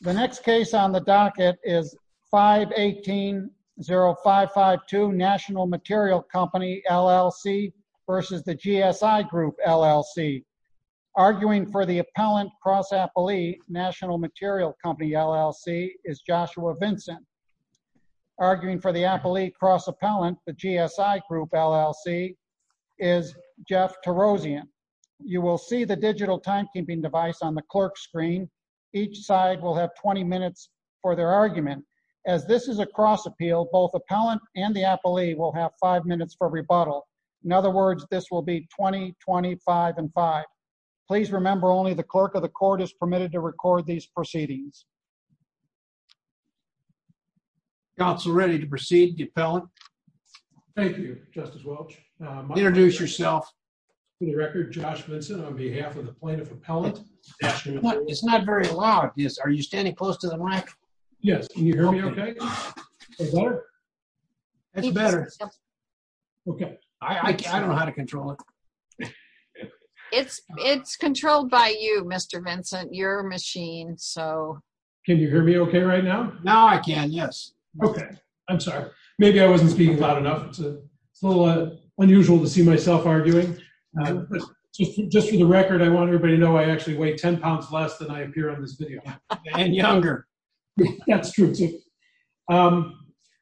The next case on the docket is 518-0552 National Material Co., LLC v. The GSI Group, LLC. Arguing for the Appellant Cross-Appellee National Material Co., LLC is Joshua Vincent. Arguing for the Appellate Cross-Appellant, the GSI Group, LLC is Jeff Terosian. You will see the digital timekeeping device on the clerk's screen. Each side will have 20 minutes for their argument. As this is a cross-appeal, both Appellant and the Appellee will have five minutes for rebuttal. In other words, this will be 20, 25, and 5. Please remember only the clerk of the court is permitted to record these proceedings. Counsel, ready to proceed, the Appellant? Thank you, Justice Welch. Introduce yourself. To the record, Josh Vincent on behalf of the Plaintiff Appellant. It's not very loud. Are you standing close to the mic? Yes. Can you hear me okay? That's better. I don't know how to control it. It's controlled by you, Mr. Vincent, your machine. Can you hear me okay right now? Now I can, yes. Okay. I'm sorry. Maybe I wasn't speaking loud enough. It's a little unusual to see myself arguing. Just for the record, I want everybody to know I actually weigh 10 pounds less than I appear on this video. And younger. That's true, too.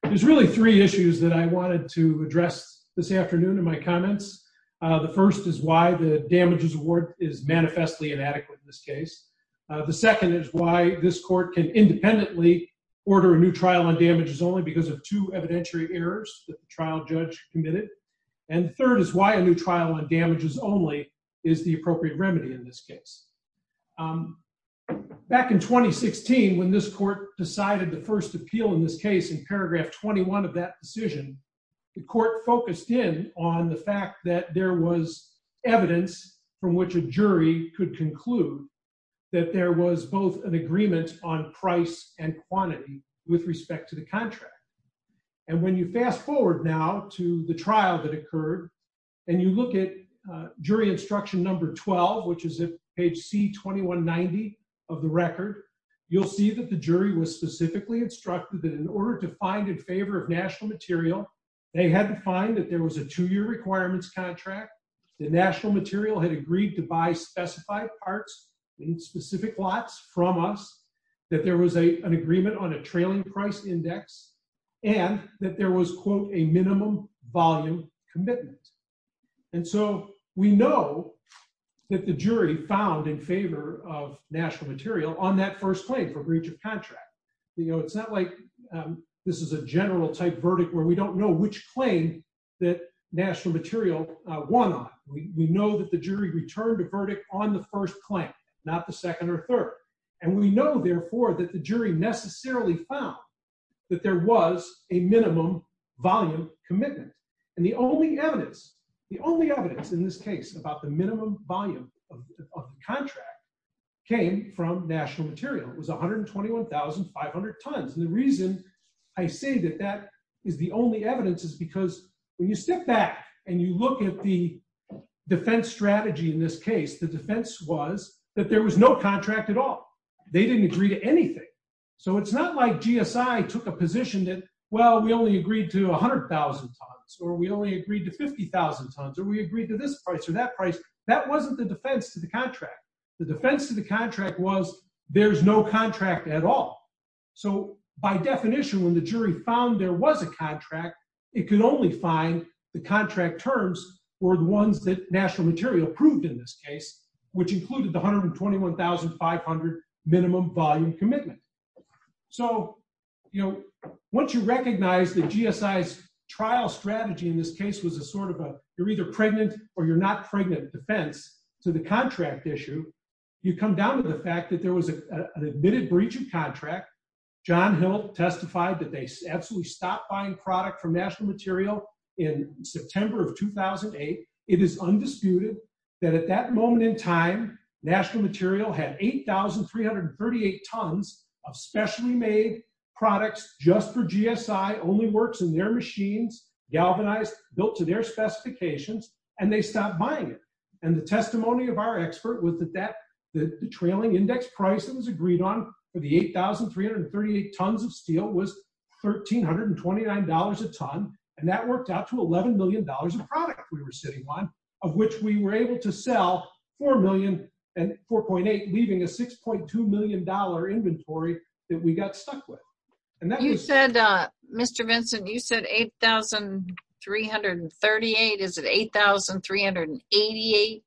There's really three issues that I wanted to address this afternoon in my comments. The first is why the damages award is manifestly inadequate in this case. The second is why this court can independently order a new trial on damages only because of two evidentiary errors that the trial judge committed. And the third is why a new trial on damages only is the appropriate remedy in this case. Back in 2016, when this court decided the first appeal in this case in paragraph 21 of that decision, the court focused in on the fact that there was evidence from which a jury could conclude that there was both an agreement on price and quantity with respect to the contract. And when you fast forward now to the trial that occurred, and you look at jury instruction number 12, which is at page C2190 of the record, you'll see that the jury was specifically instructed that in order to find in favor of national material, they had to find that there was a two-year requirements contract, the national material had agreed to buy specified parts in specific lots from us, that there was an agreement on a trailing price index, and that there was, quote, a minimum volume commitment. And so we know that the jury found in favor of national material on that first claim for breach of contract. You know, it's not like this is a general type verdict where we don't know which claim that national material won on. We know that the jury returned a verdict on the first claim, not the second or third. And we know, therefore, that the jury necessarily found that there was a minimum volume commitment. And the only evidence, the only evidence in this case about the minimum volume of the contract came from is the only evidence is because when you stick back and you look at the defense strategy in this case, the defense was that there was no contract at all. They didn't agree to anything. So it's not like GSI took a position that, well, we only agreed to 100,000 tons, or we only agreed to 50,000 tons, or we agreed to this price or that price. That wasn't the defense to the contract. The defense to the contract was there's no contract at all. So by definition, when the jury found there was a contract, it could only find the contract terms or the ones that national material proved in this case, which included the 121,500 minimum volume commitment. So, you know, once you recognize that GSI's trial strategy in this case was a sort of a you're either pregnant or you're not pregnant defense to the contract issue, you come down to the fact that there was an admitted breach of contract. John Hill testified that they absolutely stopped buying product from national material in September of 2008. It is undisputed that at that moment in time, national material had 8,338 tons of specially made products just for GSI only works in their machines galvanized built to their specifications, and they stopped buying it. And the testimony of our expert was that that the trailing index price that was agreed on for the 8,338 tons of steel was $1,329 a ton. And that worked out to $11 million of product we were sitting on, of which we were able to sell 4 million and 4.8, leaving a $6.2 million inventory that we got stuck with. You said, Mr. Vincent, you said 8,338. Is it 8,388?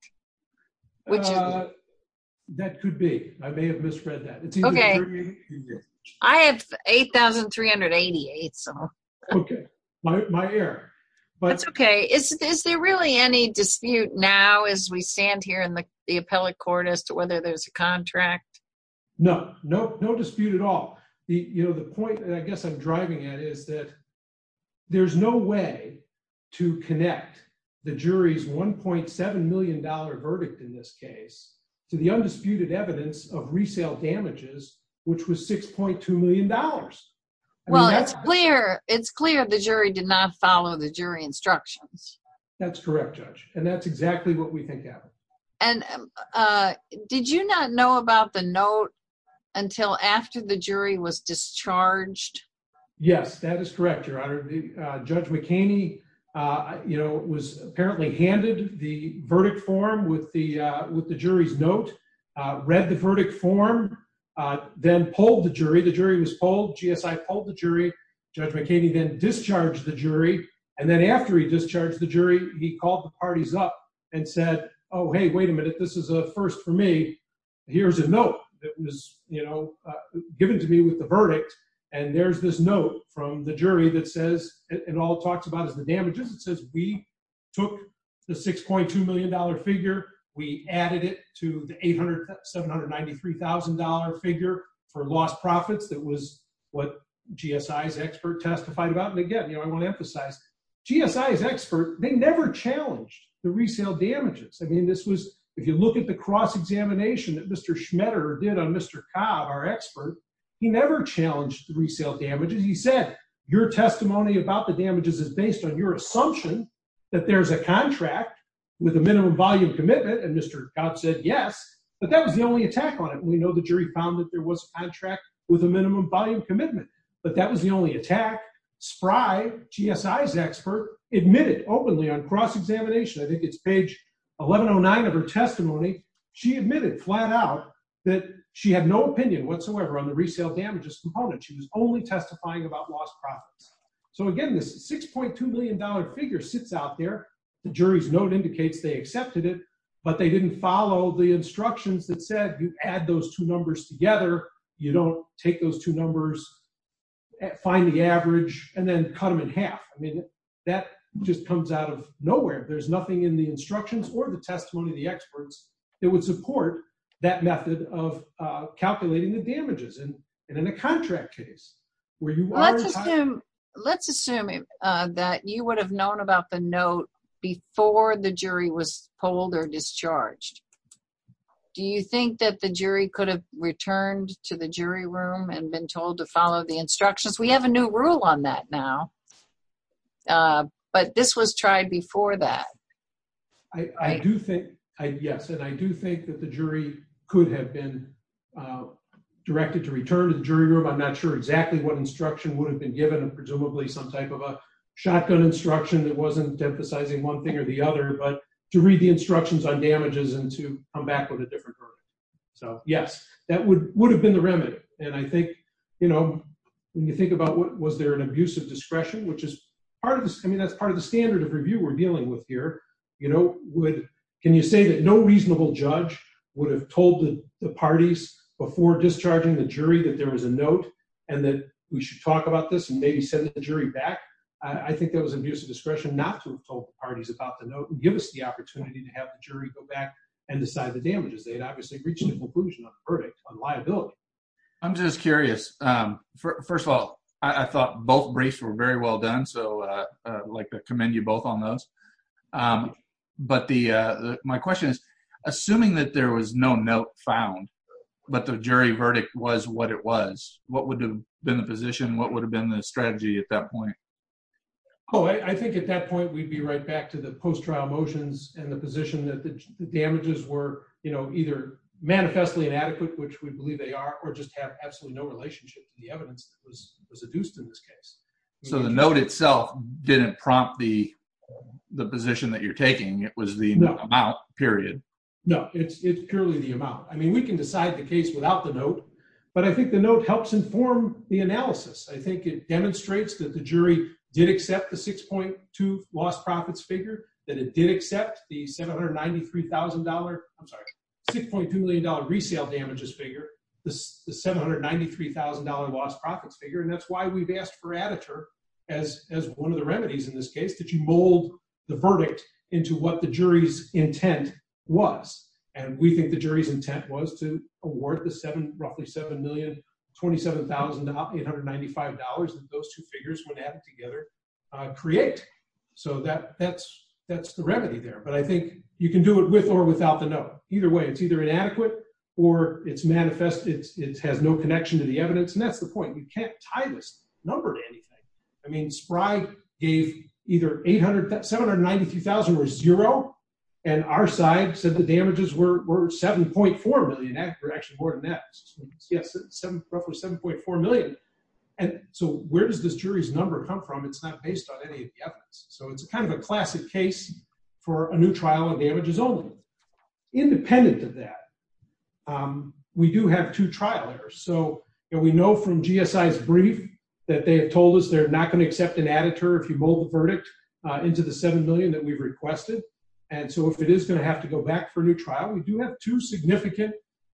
That could be I may have misread that. Okay. I have 8,388. So okay, my my air, but okay, is there really any dispute now as we stand here in the appellate court as to whether there's a contract? No, no, no dispute at all. The you know, the point that I guess I'm driving at is that there's no way to connect the jury's $1.7 million verdict in this case, to the undisputed evidence of resale damages, which was $6.2 million. Well, it's clear, it's clear the jury did not follow the jury instructions. That's correct, Judge. And that's exactly what we think happened. And did you not know about the note until after the jury was discharged? Yes, that is correct, Your Honor. Judge McCaney, you know, was apparently handed the verdict form with the with the jury's note, read the verdict form, then pulled the jury, the jury was pulled, pulled the jury, Judge McCaney then discharged the jury. And then after he discharged the jury, he called the parties up and said, Oh, hey, wait a minute. This is a first for me. Here's a note that was, you know, given to me with the verdict. And there's this note from the jury that says it all talks about is the damages. It says we took the $6.2 million figure, we added to the $793,000 figure for lost profits. That was what GSI's expert testified about. And again, you know, I want to emphasize, GSI's expert, they never challenged the resale damages. I mean, this was, if you look at the cross examination that Mr. Schmetter did on Mr. Cobb, our expert, he never challenged the resale damages. He said, your testimony about the damages is based on your yes. But that was the only attack on it. We know the jury found that there was a contract with a minimum volume commitment. But that was the only attack. Spry, GSI's expert, admitted openly on cross examination, I think it's page 1109 of her testimony. She admitted flat out that she had no opinion whatsoever on the resale damages component. She was only testifying about lost profits. So again, this $6.2 million figure sits out there. The jury's note indicates they didn't follow the instructions that said you add those two numbers together. You don't take those two numbers, find the average, and then cut them in half. I mean, that just comes out of nowhere. There's nothing in the instructions or the testimony of the experts that would support that method of calculating the damages. And in a contract case, where you are- Well, let's assume, let's assume that you would have known about the note before the jury was charged. Do you think that the jury could have returned to the jury room and been told to follow the instructions? We have a new rule on that now. But this was tried before that. I do think, yes, and I do think that the jury could have been directed to return to the jury room. I'm not sure exactly what instruction would have been given, presumably some type of a shotgun instruction that wasn't emphasizing one thing or the other. But to read the instructions on damages and to come back with a different version. So, yes, that would have been the remedy. And I think, you know, when you think about was there an abuse of discretion, which is part of this, I mean, that's part of the standard of review we're dealing with here, you know, would, can you say that no reasonable judge would have told the parties before discharging the jury that there was a note and that we should talk about this and maybe send the jury back? I think that was abuse of discretion not to have told the parties about the note and give us the opportunity to have the jury go back and decide the damages. They had obviously reached a conclusion on the verdict on liability. I'm just curious. First of all, I thought both briefs were very well done. So like to commend you both on those. But the my question is, assuming that there was no note found, but the jury verdict was what it was, what would have been the position? What would have been the strategy at that point? Oh, I think at that point, we'd be right back to the post-trial motions and the position that the damages were, you know, either manifestly inadequate, which we believe they are, or just have absolutely no relationship to the evidence that was adduced in this case. So the note itself didn't prompt the position that you're taking. It was the amount, period. No, it's purely the amount. I mean, we can decide the case without the note. But I think the note helps inform the analysis. I think it demonstrates that the jury did accept the 6.2 lost profits figure, that it did accept the $793,000, I'm sorry, $6.2 million resale damages figure, the $793,000 lost profits figure. And that's why we've asked for Aditor as one of the remedies in this case, that you mold the verdict into what the jury's intent was. And we think the jury's intent was to award the roughly $7,027,895 that those two figures, when added together, create. So that's the remedy there. But I think you can do it with or without the note. Either way, it's either inadequate, or it's manifest, it has no connection to the evidence. And that's the point. You can't tie this number to anything. I mean, Spry gave either $793,000 or zero, and our side said the damages were $7.4 million, actually more than that. Roughly $7.4 million. And so where does this jury's number come from? It's not based on any of the evidence. So it's kind of a classic case for a new trial of damages only. Independent of that, we do have two trial errors. So we know from GSI's brief, that they've told us they're not going to accept an editor if you mold the verdict into the $7 million that we requested. And so if it is going to have to go back for a new trial, we do have two significant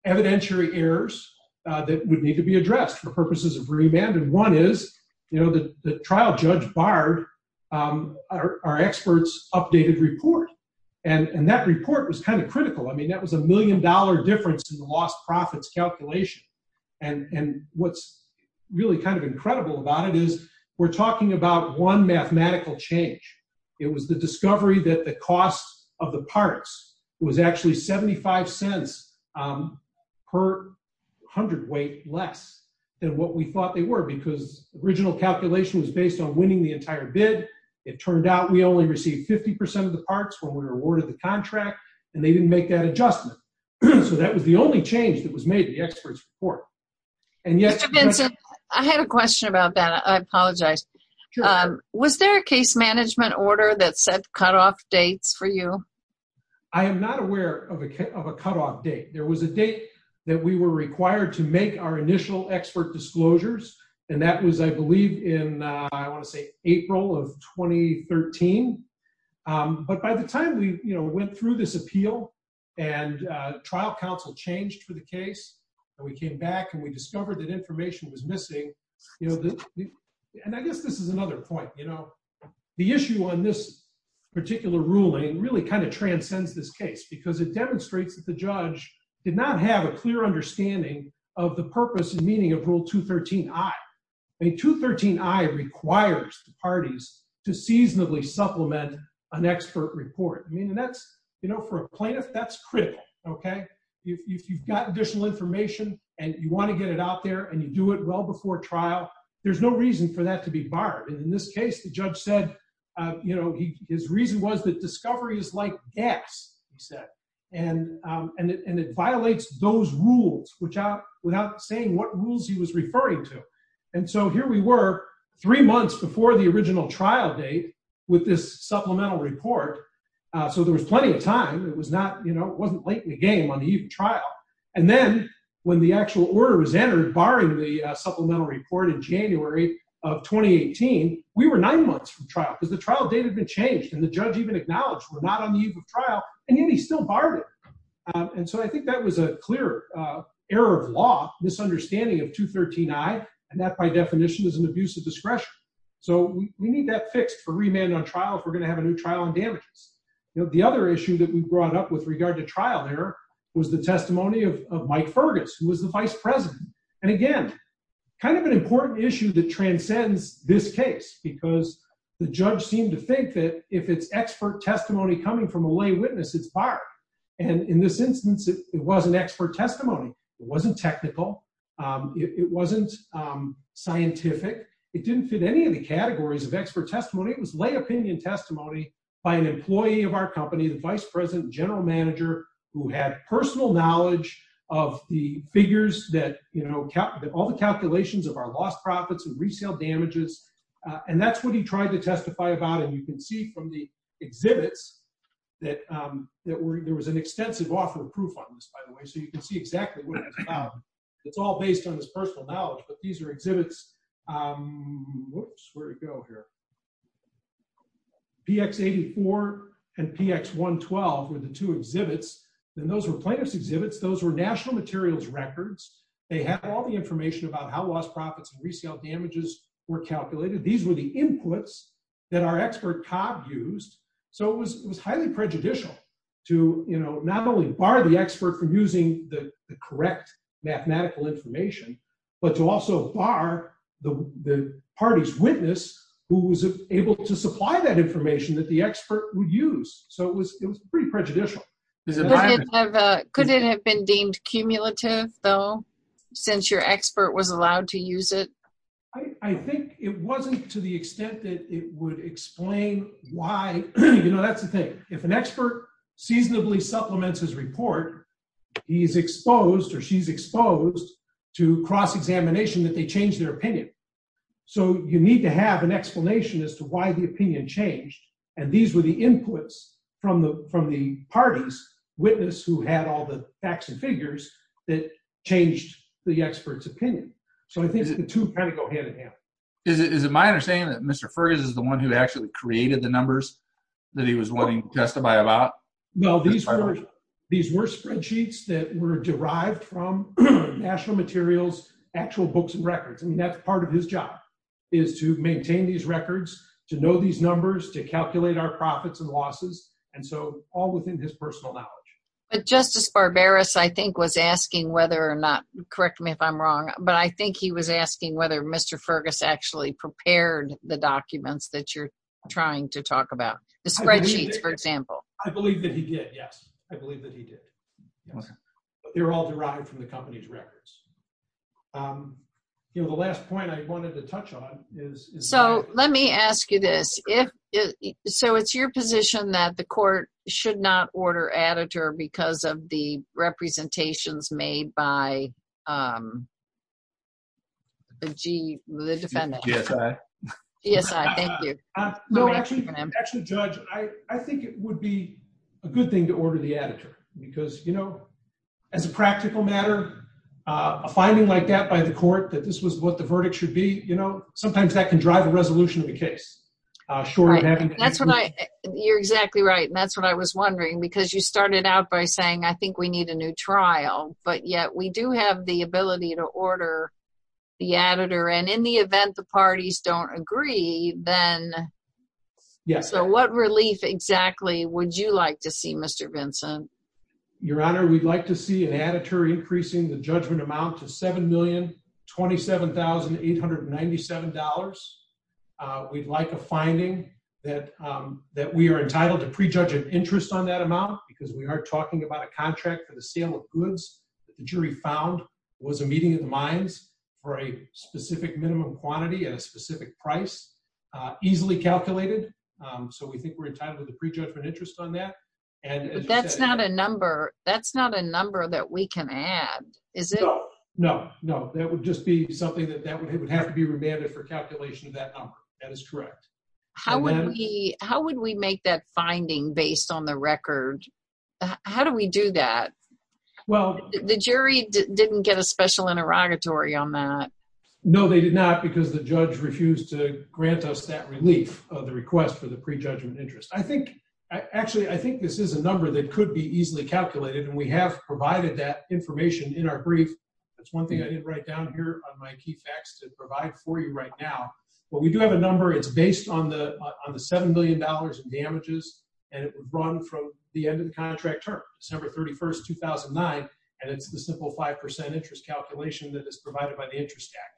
evidentiary errors that would need to be addressed for purposes of remand. And one is, you know, the trial Judge Bard, our experts updated report. And that report was kind of critical. I mean, that was a million dollar difference in the lost profits calculation. And what's really kind of incredible about it is we're talking about one mathematical change. It was the discovery that the cost of the parts was actually $0.75 per 100 weight less than what we thought they were, because original calculation was based on winning the entire bid. It turned out we only received 50% of the parts when we were awarded the contract, and they didn't make that adjustment. So that was the only change that was made, the experts report. And yet- Mr. Benson, I had a question about that. I apologize. Was there a case management order that set cutoff dates for you? I am not aware of a cutoff date. There was a date that we were required to make our initial expert disclosures. And that was, I believe, in, I want to say, April of 2013. But by the time we, went through this appeal, and trial counsel changed for the case, and we came back and we discovered that information was missing. And I guess this is another point. The issue on this particular ruling really kind of transcends this case, because it demonstrates that the judge did not have a clear understanding of the purpose and meaning of rule 213I. I mean, 213I requires the parties to seasonably supplement an expert report. I mean, that's, you know, for a plaintiff, that's critical, okay? If you've got additional information, and you want to get it out there, and you do it well before trial, there's no reason for that to be barred. And in this case, the judge said, you know, his reason was that discovery is like gas, he said. And it violates those rules, without saying what rules he was referring to. And so here we were, three months before the original trial date, with this supplemental report. So there was plenty of time, it was not, you know, it wasn't late in the game on the eve of trial. And then, when the actual order was entered, barring the supplemental report in January of 2018, we were nine months from trial, because the trial date had been changed, and the judge even acknowledged we're not on the eve of trial, and yet he still barred it. And so I think that was a clear error of law, misunderstanding of 213i, and that by definition is an abuse of discretion. So we need that fixed for remand on trial, if we're going to have a new trial on damages. The other issue that we brought up with regard to trial there, was the testimony of Mike Fergus, who was the vice president. And again, kind of an important issue that transcends this case, because the judge seemed to think that if it's expert testimony coming from a lay witness, it's barred. And in this instance, it wasn't expert it wasn't scientific, it didn't fit any of the categories of expert testimony, it was lay opinion testimony by an employee of our company, the vice president general manager, who had personal knowledge of the figures that, you know, kept all the calculations of our lost profits and resale damages. And that's what he tried to testify about. And you can see from the exhibits, that that there was an extensive offer of proof on this, by the way, so you can see exactly what it's all based on this personal knowledge. But these are exhibits. Whoops, where'd it go here? PX 84 and PX 112 were the two exhibits. And those were plaintiff's exhibits. Those were national materials records. They have all the information about how lost profits and resale damages were calculated. These were the inputs that our expert Cobb used. So it was highly prejudicial to, you know, not only bar the expert from using the correct mathematical information, but to also bar the party's witness who was able to supply that information that the expert would use. So it was it was pretty prejudicial. Could it have been deemed cumulative though, since your expert was allowed to use it? I think it wasn't to the extent that it would explain why, you know, that's the thing. If an expert seasonably supplements his report, he's exposed or she's exposed to cross examination that they change their opinion. So you need to have an explanation as to why the opinion changed. And these were the inputs from the from the party's witness who had all the facts and figures that changed the expert's opinion. So I think the two kind of go hand in hand. Is it my understanding that Mr. Fergus is the one who actually created the numbers that he was willing to testify about? Well, these were these were spreadsheets that were derived from national materials, actual books and records. I mean, that's part of his job is to maintain these records, to know these numbers, to calculate our profits and losses. And so all within his personal knowledge. But Justice Barbaros, I think was asking whether or not correct me if I'm wrong, but I think he was asking whether Mr. Fergus actually prepared the documents that you're trying to talk about the spreadsheets, for example, I believe that he did. Yes, I believe that he did. They're all derived from the company's records. You know, the last point I wanted to touch on is so let me ask you this if so it's your position that the court should not order editor because of the representations made by the defendant. Yes, I thank you. No, actually, actually, Judge, I think it would be a good thing to order the editor because, you know, as a practical matter, a finding like that by the court that this was what the verdict should be, you know, sometimes that can drive a resolution of the case. Sure. That's what I you're exactly right. And that's what I was wondering, because you started out by saying, I think we need a new trial, but yet we do have the ability to order the editor and in the event the parties don't agree, then. Yes. So what relief exactly would you like to see Mr. Vincent, Your Honor, we'd like to see an editor increasing the judgment amount to $7,027,897. We'd like a finding that that we are entitled to prejudge an interest on that amount, because we are talking about a contract for the sale of goods that the jury found was a meeting of the minds for a specific minimum quantity at a specific price, easily calculated. So we think we're entitled to the prejudgment interest on that. And that's not a number. That's not a number that we can add. Is it? No, no, no, that would just be something that that would have to be remanded for calculation of that number. That is correct. How would we make that finding based on the record? How do we do that? Well, the jury didn't get a special interrogatory on that. No, they did not, because the judge refused to grant us that relief of the request for the prejudgment interest. I think, actually, I think this is a number that could be easily calculated. And we have provided that information in our brief. That's one thing I didn't write down here on my key facts to provide for you right now. But we do have a number it's on the $7 million in damages, and it would run from the end of the contract term, December 31st, 2009. And it's the simple 5% interest calculation that is provided by the Interest Act.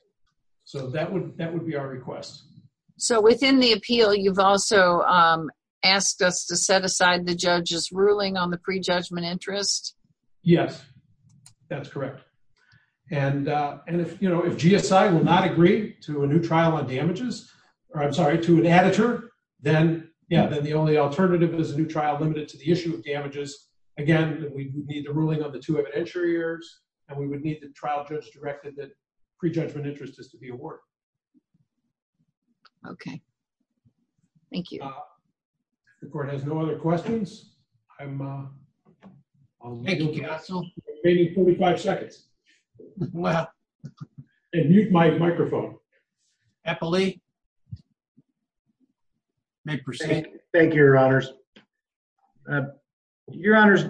So that would that would be our request. So within the appeal, you've also asked us to set aside the judge's ruling on the prejudgment interest? Yes, that's correct. And, and if you know, GSI will not agree to a new trial on damages, or I'm sorry, to an editor, then yeah, then the only alternative is a new trial limited to the issue of damages. Again, we need the ruling on the two evidentiary errors. And we would need the trial judge directed that prejudgment interest is to be awarded. Okay. Thank you. The court has no other questions. I'm waiting 45 seconds. Well, if you'd like microphone, happily may proceed. Thank you, Your Honors. Your Honors,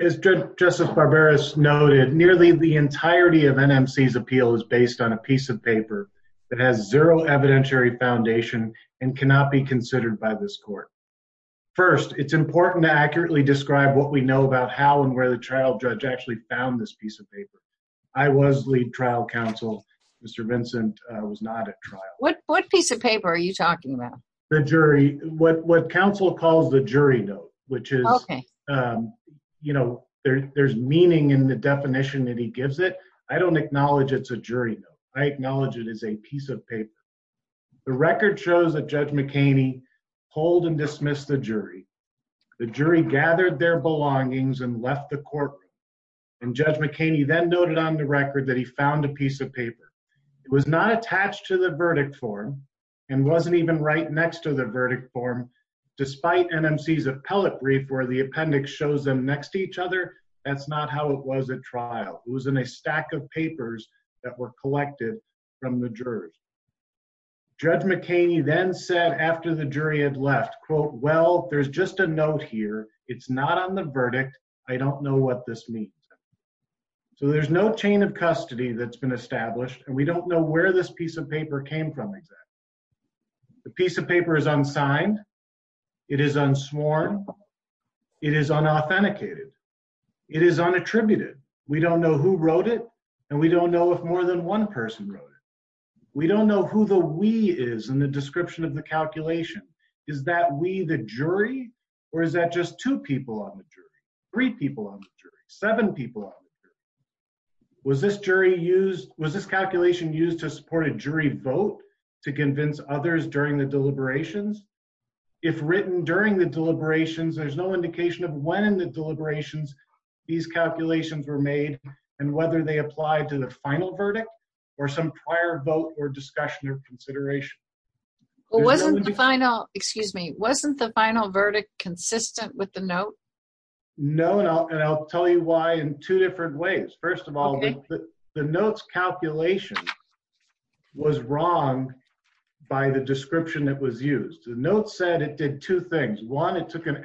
as Justice Barberas noted, nearly the entirety of NMC's appeal is based on a piece of paper that has zero evidentiary foundation and cannot be considered by this court. First, it's important to accurately describe what we know about how and where the trial judge actually found this piece of paper. I was lead trial counsel, Mr. Vincent was not at trial. What piece of paper are you talking about? The jury, what what counsel calls the jury note, which is, you know, there's meaning in the definition that he gives it. I don't acknowledge it's a jury note. I acknowledge it as a piece of paper. The record shows that Judge McHaney pulled and dismissed the jury. The jury gathered their belongings and left the courtroom. And Judge McHaney then noted on the record that he found a piece of paper. It was not attached to the verdict form and wasn't even right next to the verdict form, despite NMC's appellate brief where the appendix shows them next to each other. That's not how it was at trial. It was in a stack of papers that were collected from the jury. Judge McHaney then said after the jury had left, quote, well, there's just a note here. It's not on the verdict. I don't know what this means. So there's no chain of custody that's been established. And we don't know where this piece of paper came from exactly. The piece of paper is unsigned. It is unsworn. It is unauthenticated. It is unattributed. We don't know who wrote it. And we don't know if more than one person wrote it. We don't know who the we is in the description of the calculation. Is that we, the jury, or is that just two people on the jury, three people on the jury, seven people on the jury? Was this calculation used to support a jury vote to convince others during the deliberations? If written during the deliberations, there's no indication of when in the deliberations these calculations were made and whether they apply to the final verdict or some prior vote or discussion or consideration. Well, wasn't the final, excuse me, wasn't the final verdict consistent with the note? No, and I'll tell you why in two different ways. First of all, the note's calculation was wrong by the description that was used. The note said it did two things. One, it took an two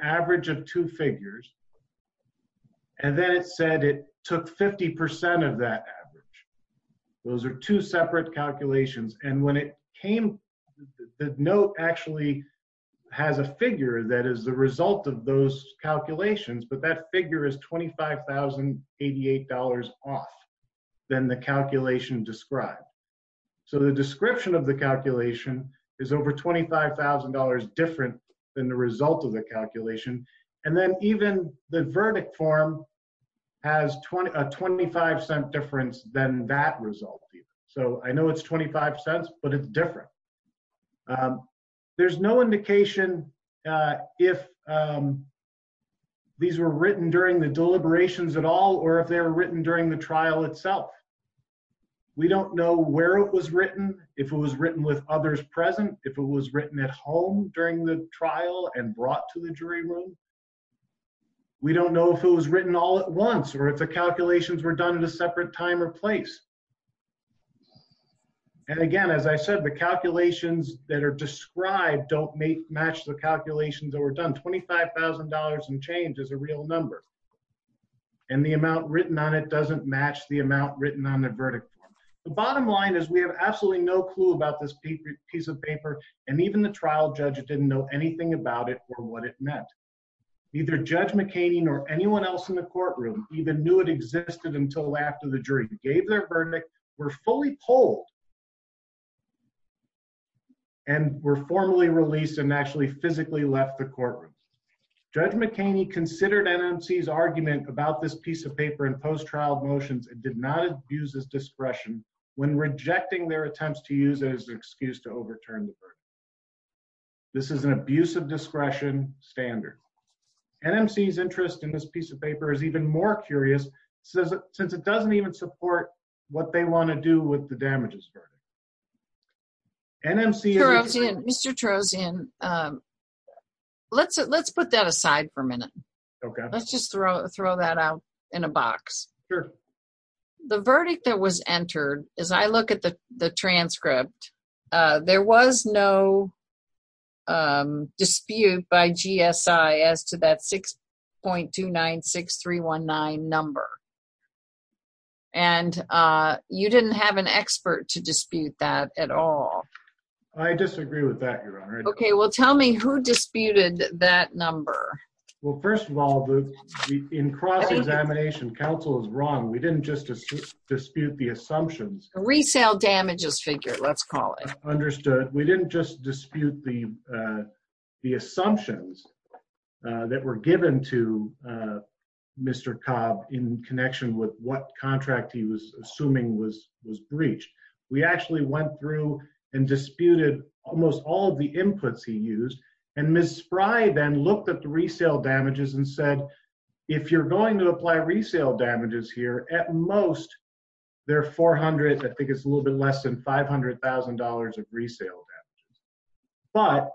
separate calculations. And when it came, the note actually has a figure that is the result of those calculations, but that figure is $25,088 off than the calculation described. So the description of the calculation is over $25,000 different than the result of the calculation. And then even the verdict form has a 25 cent difference than that result. So I know it's 25 cents, but it's different. There's no indication if these were written during the deliberations at all, or if they were written during the trial itself. We don't know where it was written, if it was written with others present, if it was written at home during the trial and brought to jury room. We don't know if it was written all at once, or if the calculations were done at a separate time or place. And again, as I said, the calculations that are described don't match the calculations that were done. $25,000 and change is a real number. And the amount written on it doesn't match the amount written on the verdict form. The bottom line is we have absolutely no clue about this piece of paper. And even the trial judge didn't know anything about it or what it meant. Neither Judge McHaney nor anyone else in the courtroom even knew it existed until after the jury gave their verdict, were fully polled, and were formally released and actually physically left the courtroom. Judge McHaney considered NMC's argument about this piece of paper in post-trial motions and did not abuse his discretion when rejecting their attempts to use it as an excuse to overturn the verdict. This is an abuse of discretion standard. NMC's interest in this piece of paper is even more curious since it doesn't even support what they want to do with the damages verdict. NMC... Mr. Turozian, let's put that aside for a minute. Let's just throw that out in a box. Sure. The verdict that was entered, as I look at the transcript, there was no dispute by GSI as to that 6.296319 number. And you didn't have an expert to dispute that at all. I disagree with that, Your Honor. Okay, well tell me who disputed that number. Well, first of all, in cross-examination, counsel is wrong. We didn't just dispute the assumptions. Resale damages figure, let's call it. Understood. We didn't just dispute the assumptions that were given to Mr. Cobb in connection with what contract he was assuming was breached. We actually went through and disputed almost all of the inputs he used, and Ms. Spry then looked at the resale damages and said, if you're going to apply resale damages here, at most there are 400... I think it's a little bit less than $500,000 of resale damages. But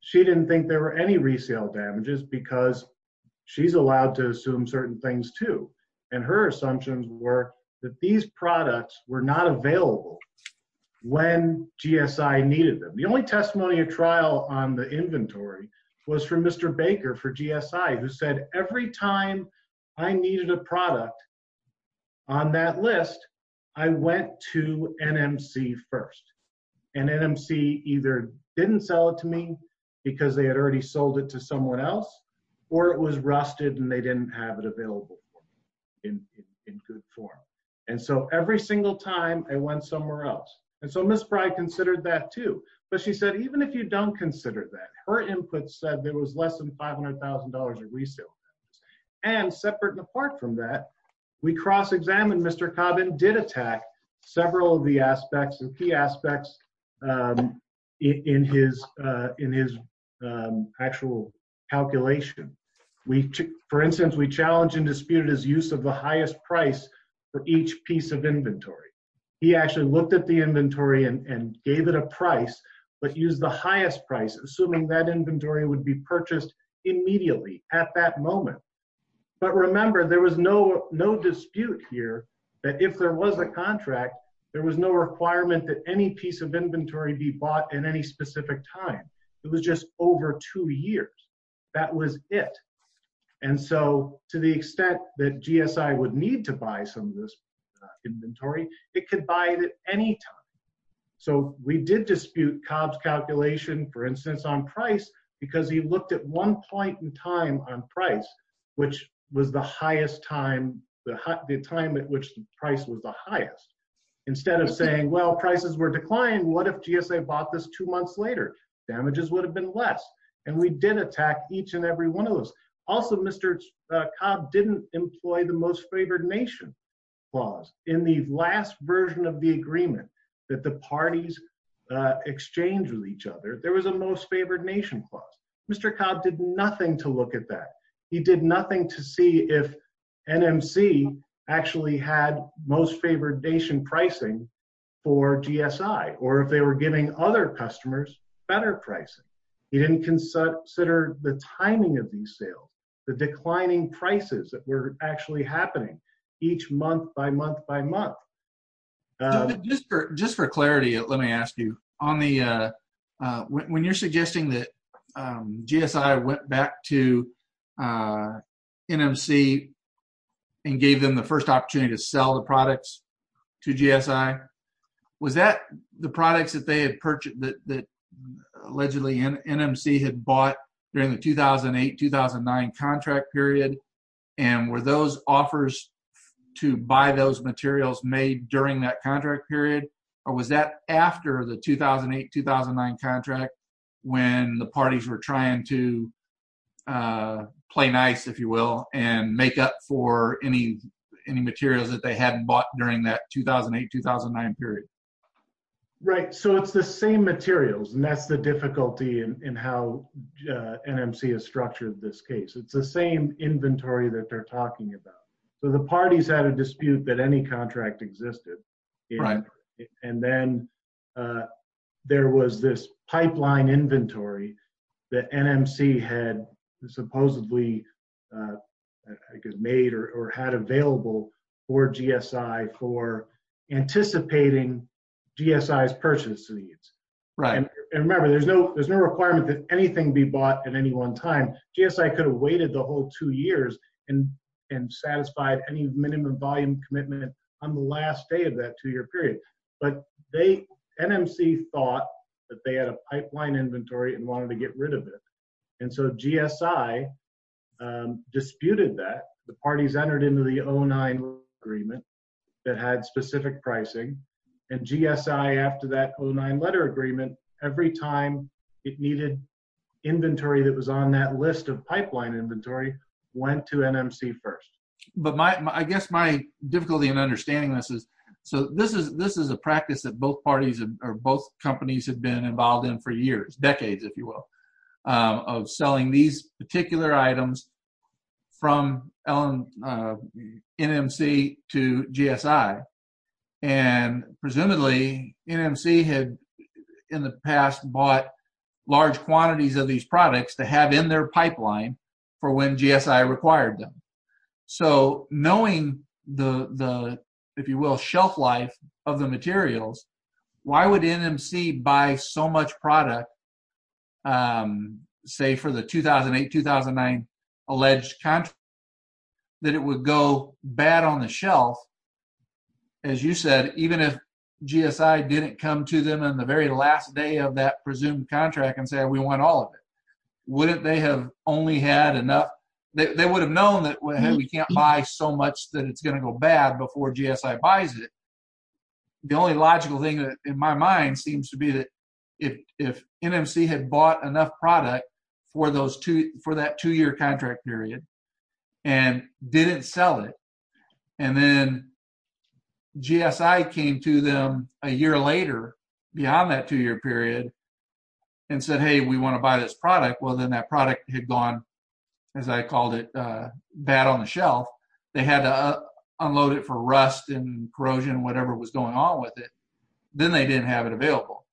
she didn't think there were any resale damages because she's allowed to assume certain things too. And her assumptions were that these products were not available when GSI needed them. The only testimony of trial on the inventory was from Mr. Baker for GSI who said, every time I needed a product on that list, I went to NMC first. And NMC either didn't sell it to me because they had already sold it to someone else, or it was rusted and they didn't have it available for me in good form. And so every single time I went somewhere else. And so Ms. Spry considered that too. But she said, even if you don't consider that, her input said there was less than $500,000 of resale damages. And separate and apart from that, we cross-examined Mr. Cobb and did attack several of the aspects, the key calculation. For instance, we challenged and disputed his use of the highest price for each piece of inventory. He actually looked at the inventory and gave it a price, but used the highest price, assuming that inventory would be purchased immediately at that moment. But remember, there was no dispute here that if there was a contract, there was no requirement that any piece of inventory be bought in any specific time. It was just over two years. That was it. And so to the extent that GSI would need to buy some of this inventory, it could buy it at any time. So we did dispute Cobb's calculation, for instance, on price, because he looked at one point in time on price, which was the highest time, the time at which the price was the highest. Instead of saying, well, prices were declined, what if GSA bought this two months later? Damages would have been less. And we did attack each and every one of those. Also, Mr. Cobb didn't employ the most favored nation clause. In the last version of the agreement that the parties exchanged with each other, there was a most favored nation clause. Mr. Cobb did nothing to look at that. He did nothing to see if NMC actually had most favored nation pricing for GSI, or if they were giving other customers better pricing. He didn't consider the timing of these sales, the declining prices that were actually happening each month by month by month. Just for clarity, let me ask you, when you're suggesting that sell the products to GSI, was that the products that allegedly NMC had bought during the 2008-2009 contract period, and were those offers to buy those materials made during that contract period, or was that after the 2008-2009 contract, when the parties were trying to play nice, if you will, and make up for any materials that they hadn't bought during that 2008-2009 period? Right. So, it's the same materials, and that's the difficulty in how NMC has structured this case. It's the same inventory that they're talking about. So, the parties had a dispute that any contract existed, and then there was this pipeline inventory that NMC had supposedly made or had available for GSI for anticipating GSI's purchase needs. And remember, there's no requirement that anything be bought at any one time. GSI could have waited the whole two years and satisfied any minimum volume commitment on the last day of that two-year period. But NMC thought that they had a pipeline inventory and wanted to get rid of it. And so, GSI disputed that. The parties entered into the 2009 agreement that had specific pricing, and GSI, after that 2009 letter agreement, every time it needed inventory that was on that list of pipeline inventory, went to NMC first. But I guess my difficulty in understanding this is, so this is a practice that both parties or both companies have been involved in for years, decades, if you will, of selling these particular items from NMC to GSI. And presumably, NMC had, in the past, bought large quantities of these so knowing the, if you will, shelf life of the materials, why would NMC buy so much product, say for the 2008-2009 alleged contract, that it would go bad on the shelf? As you said, even if GSI didn't come to them on the very last day of that presumed contract and say, we want all of it, wouldn't they have only had enough? They would have known that we can't buy so much that it's going to go bad before GSI buys it. The only logical thing in my mind seems to be that if NMC had bought enough product for that two-year contract period and didn't sell it, and then GSI came to them a year later, beyond that two-year period, and said, hey, we want to buy this product, well, then that product had gone, as I called it, bad on the shelf. They had to unload it for rust and corrosion, whatever was going on with it. Then they didn't have it available.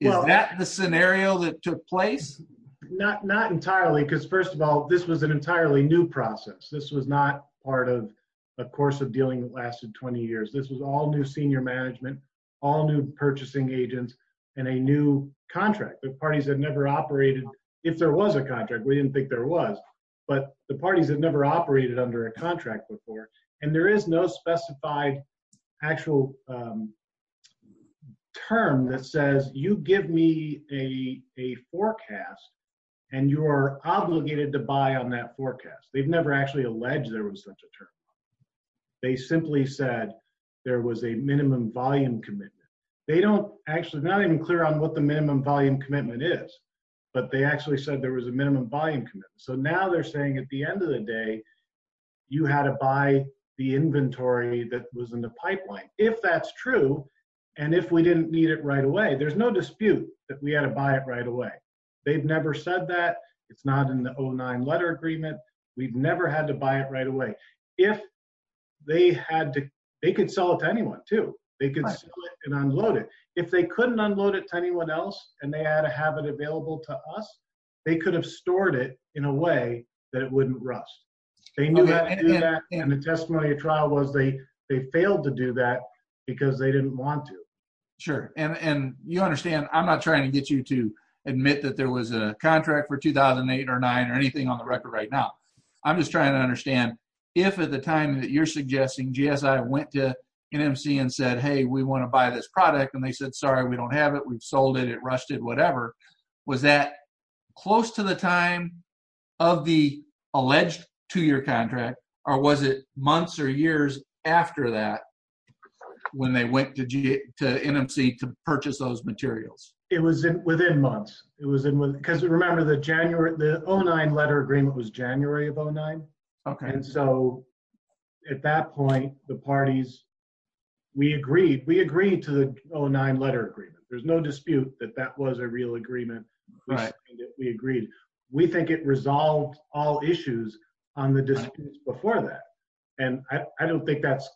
Is that the scenario that took place? Not entirely, because first of all, this was an entirely new process. This was not part of a course of dealing that lasted 20 years. This was all new senior management, all new purchasing agents, and a new contract that parties had never operated. If there was a contract, we didn't think there was, but the parties had never operated under a contract before. There is no specified actual term that says, you give me a forecast, and you're obligated to buy on that forecast. They've never actually alleged there was such a term. They simply said there was a minimum volume commitment. They're not even clear on what the minimum volume commitment is, but they actually said there was a minimum volume commitment. Now they're saying at the end of the day, you had to buy the inventory that was in the pipeline. If that's true, and if we didn't need it right away, there's no dispute that we had to buy it right away. They've never said that. It's not in the 09 letter agreement. We've never had to buy it right away. If they had to, they could sell it to anyone too. They could sell it and unload it. If they couldn't unload it to anyone else, and they had to have it available to us, they could have stored it in a way that it wouldn't rust. They knew how to do that, and the testimony of trial was they failed to do that because they didn't want to. Sure, and you understand I'm not trying to get you to admit that there was a contract for 2008 or 9 or anything on the record right now. I'm just trying to understand if at the time that you're suggesting, GSI went to NMC and said, hey, we want to buy this product, and they said, sorry, we don't have it. We've sold it. It rusted, whatever. Was that close to the time of the alleged two-year contract, or was it months or years after that when they went to NMC to purchase those materials? It was within months. Because remember, the 09 letter agreement was January of 09, and so at that point, the parties, we agreed. We agreed to the 09 letter agreement. There's no dispute that that was a real agreement. We agreed. We think it resolved all issues on the disputes before that, and I don't think that's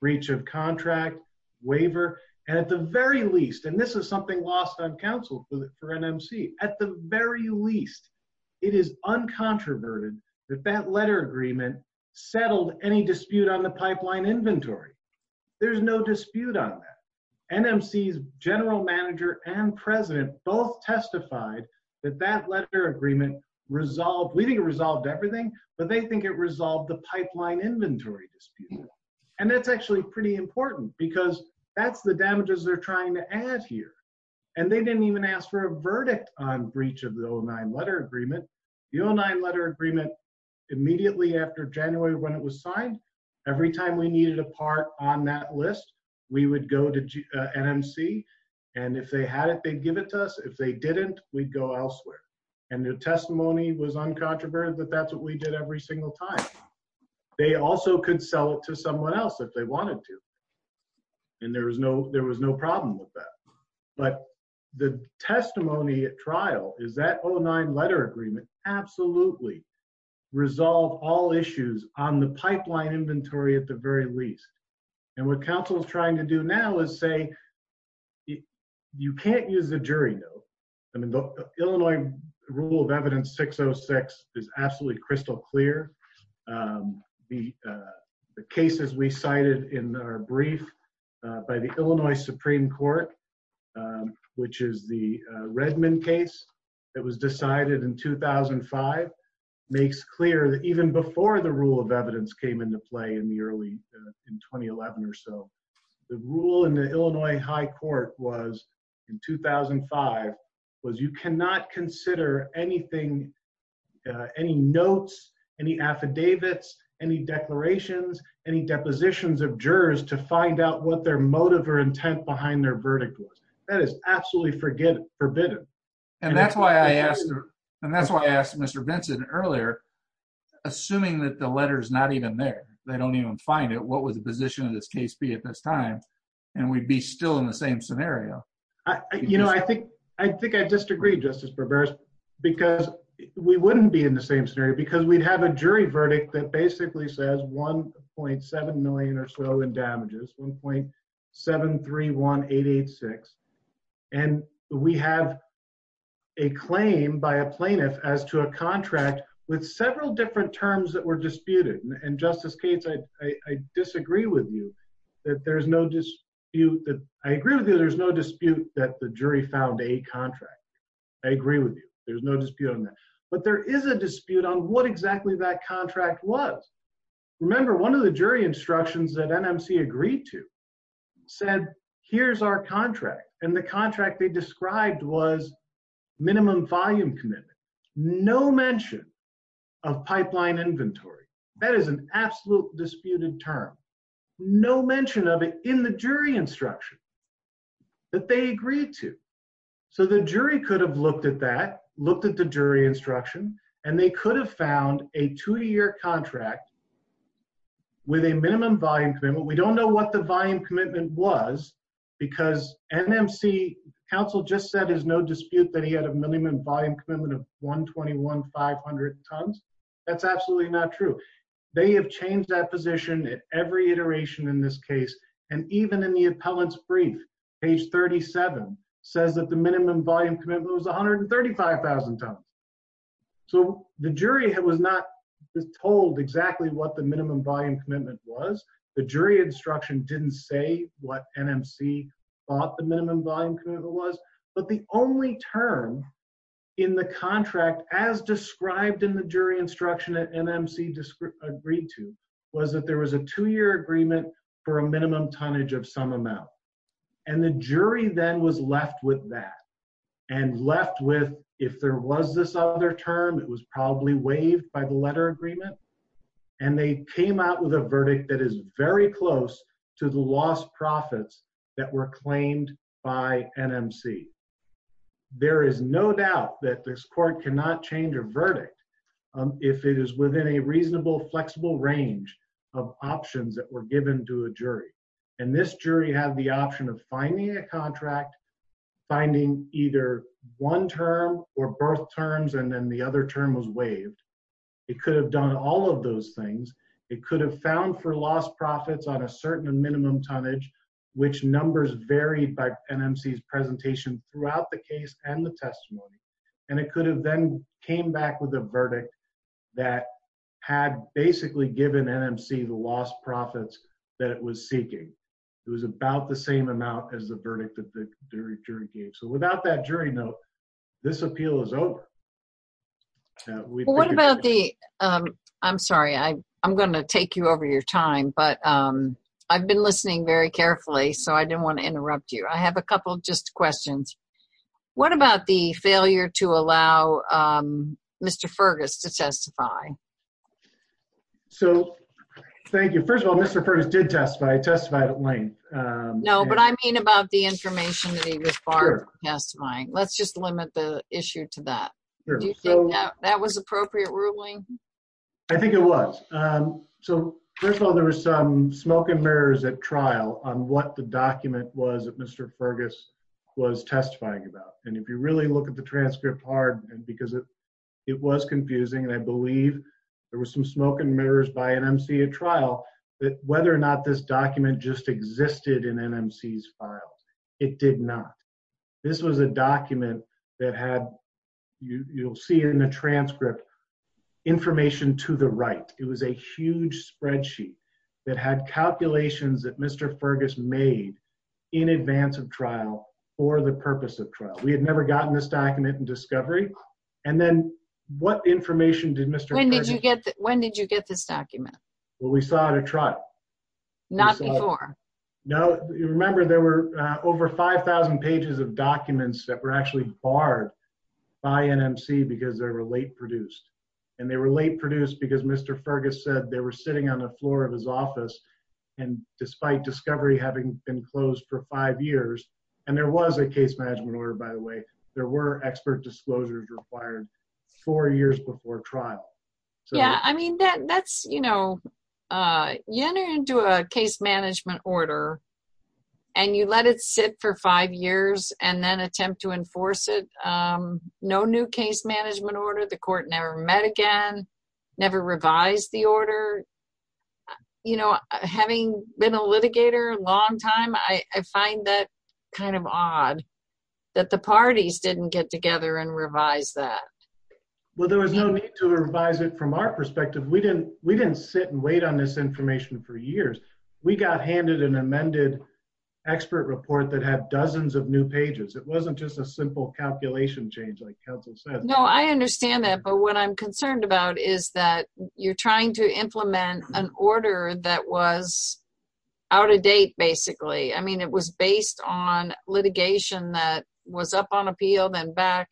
breach of contract, waiver, and at the very least, and this is something lost on counsel for NMC, at the very least, it is uncontroverted that that letter agreement settled any dispute on the pipeline inventory. There's no dispute on that. NMC's general manager and president both testified that that letter agreement resolved, we think it resolved everything, but they think it resolved the pipeline inventory dispute, and that's actually pretty important because that's the damages they're trying to add here, and they didn't even ask for a verdict on breach of the 09 letter agreement. The 09 letter agreement, immediately after January when it was signed, every time we needed a part on that list, we would go to NMC, and if they had it, they'd give it to us. If they didn't, we'd go elsewhere, and their testimony was uncontroverted that that's what we did every single time. They also could sell it to someone else if they wanted to, and there was no problem with that, but the testimony at trial is that 09 letter agreement absolutely resolved all issues on the pipeline inventory at the very least, and what counsel is trying to do now is say you can't use the jury, though. I mean, the Illinois rule of evidence 606 is absolutely crystal clear. The cases we cited in our brief by the Illinois Supreme Court, which is the Redmond case that was decided in 2005, makes clear that even before the rule of evidence came into play in the Illinois High Court in 2005, you cannot consider anything, any notes, any affidavits, any declarations, any depositions of jurors to find out what their motive or intent behind their verdict was. That is absolutely forbidden, and that's why I asked Mr. Vincent earlier, assuming that the letter is not even there, they don't even find it, what was the position of this time, and we'd be still in the same scenario. You know, I think I disagree, Justice Barberos, because we wouldn't be in the same scenario, because we'd have a jury verdict that basically says 1.7 million or so in damages, 1.731886, and we have a claim by a plaintiff as to a contract with several different terms that were disputed, and Justice Cates, I disagree with you that there is no dispute that the jury found a contract. I agree with you, there's no dispute on that, but there is a dispute on what exactly that contract was. Remember, one of the jury instructions that NMC agreed to said, here's our contract, and the contract they described was no mention of pipeline inventory. That is an absolute disputed term. No mention of it in the jury instruction that they agreed to. So the jury could have looked at that, looked at the jury instruction, and they could have found a two-year contract with a minimum volume commitment. We don't know what the volume commitment was, because NMC counsel just said there's no dispute that he had a minimum volume commitment of 121,500 tons. That's absolutely not true. They have changed that position at every iteration in this case, and even in the appellant's brief, page 37, says that the minimum volume commitment was 135,000 tons. So the jury was not told exactly what the minimum volume commitment was. The jury instruction didn't say what NMC thought the minimum volume commitment was, but the only term in the contract as described in the jury instruction that NMC agreed to was that there was a two-year agreement for a minimum tonnage of some amount, and the jury then was left with that, and left with, if there was this other term, it was probably waived by the letter agreement, and they came out with a verdict that is very close to the lost profits that were claimed by NMC. There is no doubt that this court cannot change a verdict if it is within a reasonable, flexible range of options that were given to a jury, and this jury had the option of finding a contract, finding either one term or both terms, and then the other term was waived. It could have done all of those things. It could have found for lost profits on a which numbers varied by NMC's presentation throughout the case and the testimony, and it could have then came back with a verdict that had basically given NMC the lost profits that it was seeking. It was about the same amount as the verdict that the jury gave. So without that jury note, this appeal is over. What about the, I'm sorry, I'm going to take you over your time, but I've been listening very carefully, so I didn't want to interrupt you. I have a couple just questions. What about the failure to allow Mr. Fergus to testify? So thank you. First of all, Mr. Fergus did testify. He testified at length. No, but I mean about the information that he was barred from testifying. Let's just limit the issue to that. That was appropriate ruling? I think it was. So first of all, there was some smoke and mirrors at trial on what the document was that Mr. Fergus was testifying about, and if you really look at the transcript hard because it was confusing, and I believe there was some smoke and mirrors by NMC at trial that whether or not this document just existed in NMC's files, it did not. This was a document that had, you'll see in the transcript, information to the right. It was a huge spreadsheet that had calculations that Mr. Fergus made in advance of trial for the purpose of trial. We had never gotten this document in discovery, and then what information did Mr. Fergus... When did you get this document? Well, we saw it at trial. Not before? No. You remember there were over 5,000 pages of documents that were actually barred by NMC because they were late produced, and they were late produced because Mr. Fergus said they were sitting on the floor of his office, and despite discovery having been closed for five years, and there was a case management order, by the way, there were expert disclosures required four years before trial. Yeah. You enter into a case management order, and you let it sit for five years, and then attempt to enforce it. No new case management order. The court never met again, never revised the order. Having been a litigator a long time, I find that kind of odd that the parties didn't get together and revise that. Well, there was no need to revise it from our perspective. We didn't sit and wait on this information for years. We got handed an amended expert report that had dozens of new pages. It wasn't just a simple calculation change like counsel said. No, I understand that, but what I'm concerned about is that you're trying to implement an order that was out of date, basically. It was based on litigation that was up on appeal, then back,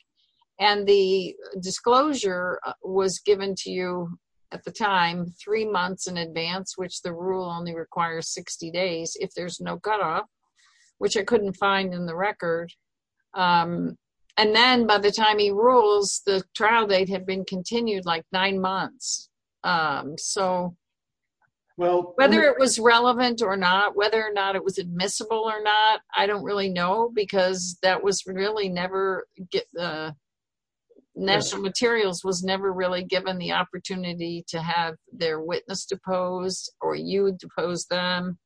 and the disclosure was given to you at the time three months in advance, which the rule only requires 60 days if there's no cutoff, which I couldn't find in the record. Then by the time he whether or not it was admissible or not, I don't really know, because National Materials was never really given the opportunity to have their witness depose, or you would depose them.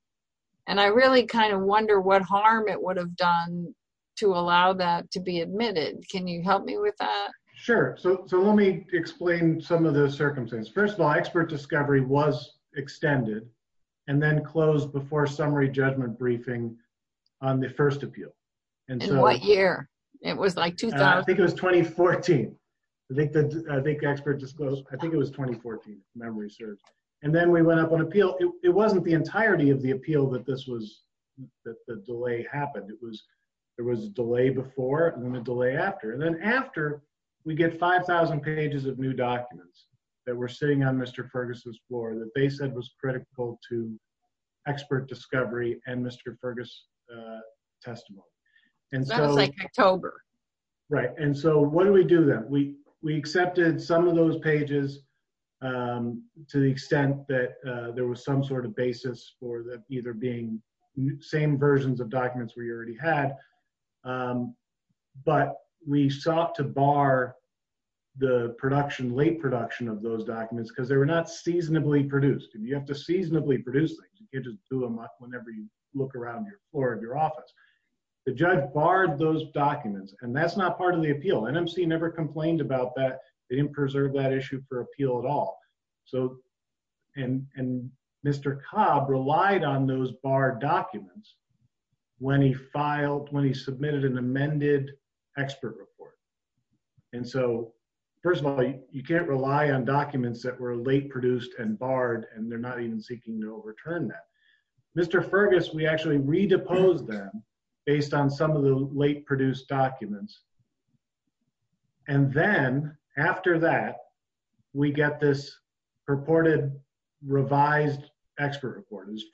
I really kind of wonder what harm it would have done to allow that to be admitted. Can you help me with that? Sure. Let me explain some of the circumstances. First of all, expert discovery was extended, and then closed before summary judgment briefing on the first appeal. In what year? It was like 2000. I think it was 2014. I think expert disclosed. I think it was 2014, memory serves. Then we went up on appeal. It wasn't the entirety of the appeal that the delay happened. There was a delay before and then a delay after. Then after, we get 5,000 pages of new documents that were sitting on Mr. Critical to expert discovery and Mr. Fergus testimony. That was like October. Right. What do we do then? We accepted some of those pages to the extent that there was some sort of basis for them either being same versions of documents we already had, but we sought to bar the late production of those documents because they were not seasonably produced. If you have to seasonably produce things, you get to do them whenever you look around the floor of your office. The judge barred those documents, and that's not part of the appeal. NMC never complained about that. They didn't preserve that issue for appeal at all. Mr. Cobb relied on those barred documents when he submitted an amended expert report. First of all, you can't rely on documents that were late produced and barred, and they're not even seeking to overturn that. Mr. Fergus, we actually redeposed them based on some of the late produced documents. Then after that, we get this purported revised expert report. It was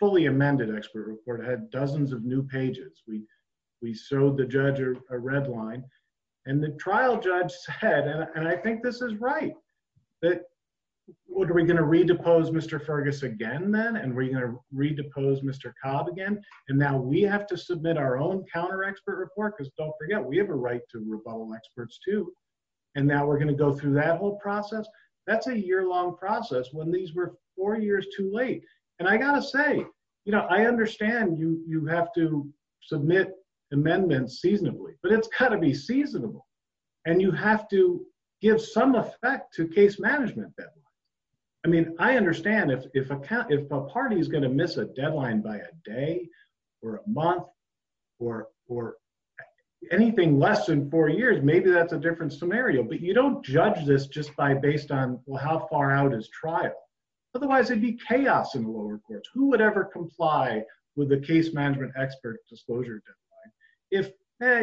trial judge said, and I think this is right, that are we going to redepose Mr. Fergus again, then? Are we going to redepose Mr. Cobb again? Now we have to submit our own counter expert report because don't forget, we have a right to rebuttal experts too. Now we're going to go through that whole process. That's a year-long process when these were four years too late. I got to say, I understand you have to submit amendments seasonably, but it's got to be seasonable. You have to give some effect to case management deadline. I understand if a party is going to miss a deadline by a day or a month or anything less than four years, maybe that's a different scenario, but you don't judge this just by based on how far out is trial. Otherwise, it'd be chaos in the lower courts. Who would ever comply with the case management expert disclosure deadline? If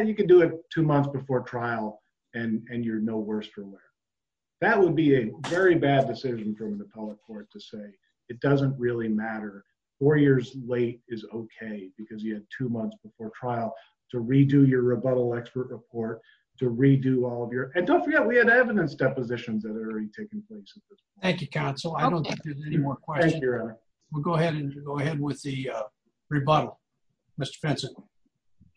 you can do it two months before trial and you're no worse for wear. That would be a very bad decision from an appellate court to say, it doesn't really matter. Four years late is okay because you had two months before trial to redo your rebuttal expert report, to redo all of your, and don't forget, we had evidence depositions that are already taking place. Thank you, counsel. I don't think there's any more questions. We'll go ahead and go ahead with the rebuttal. Mr. Benson.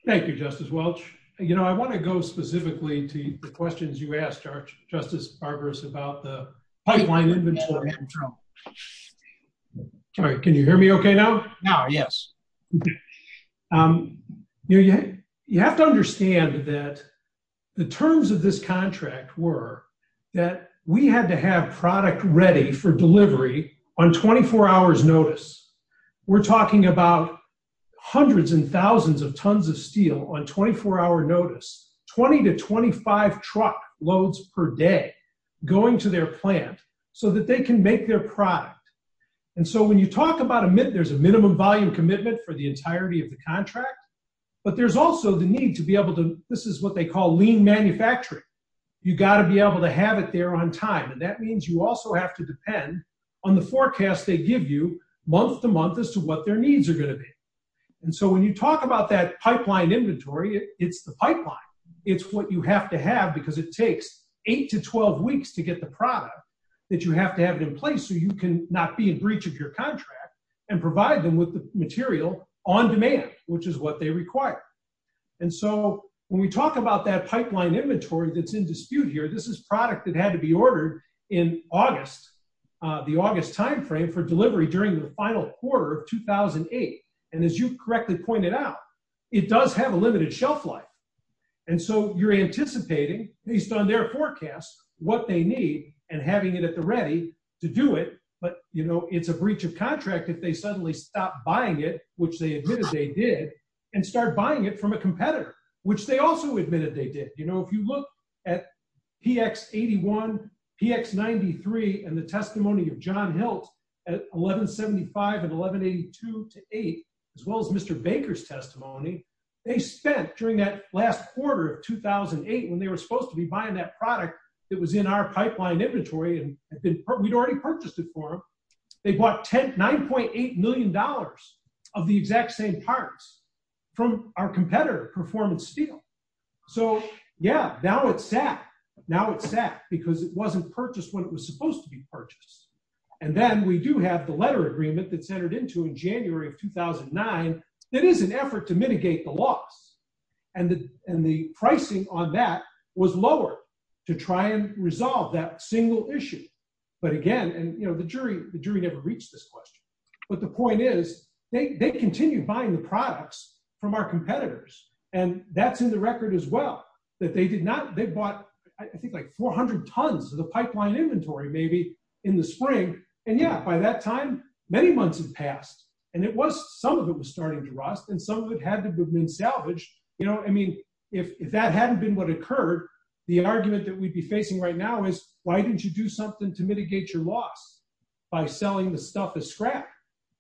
Thank you, Justice Welch. I want to go specifically to the questions you asked, Justice Barberis, about the pipeline inventory. Can you hear me okay now? Now, yes. You have to understand that the terms of this contract were that we had to have product ready for delivery on 24 hours notice. We're talking about hundreds and thousands of tons of steel on 24 hour notice, 20 to 25 truck loads per day going to their plant so that they can make their product. And so when you talk about a minute, there's a minimum volume commitment for the entirety of the contract, but there's also the need to be able to, this is what they call lean manufacturing. You got to be able to have it there on time. And that means you also have to depend on the forecast they give you month to month as to what their needs are going to be. And so when you talk about that pipeline inventory, it's the pipeline. It's what you have to have because it takes eight to 12 weeks to get the product that you have to have it in place so you can not be in breach of your contract and provide them with the material on demand, which is what they require. And so when we talk about that pipeline inventory that's in dispute here, this is product that had to be ordered in August, the August timeframe for delivery during the final quarter of 2008. And as you correctly pointed out, it does have a limited shelf life. And so you're anticipating based on their forecast, what they need and having it at the ready to do it. But it's a breach of contract if they suddenly stop buying it, which they admitted they did, and start buying it from a competitor, which they also admitted they did. If you look at PX81, PX93, and the testimony of John Hilt at 1175 and 1182 to eight, as well as Mr. Baker's testimony, they spent during that last quarter of 2008 when they were supposed to be buying that they bought $9.8 million of the exact same parts from our competitor, Performance Steel. So yeah, now it's sad. Now it's sad because it wasn't purchased when it was supposed to be purchased. And then we do have the letter agreement that's entered into in January of 2009, that is an effort to mitigate the loss. And the pricing on that was lower to try and resolve that ever reached this question. But the point is, they continue buying the products from our competitors. And that's in the record as well, that they did not they bought, I think like 400 tons of the pipeline inventory, maybe in the spring. And yeah, by that time, many months have passed. And it was some of it was starting to rust. And some of it had to have been salvaged. You know, I mean, if that hadn't been what occurred, the argument that we'd be facing right is, why didn't you do something to mitigate your loss by selling the stuff as scrap,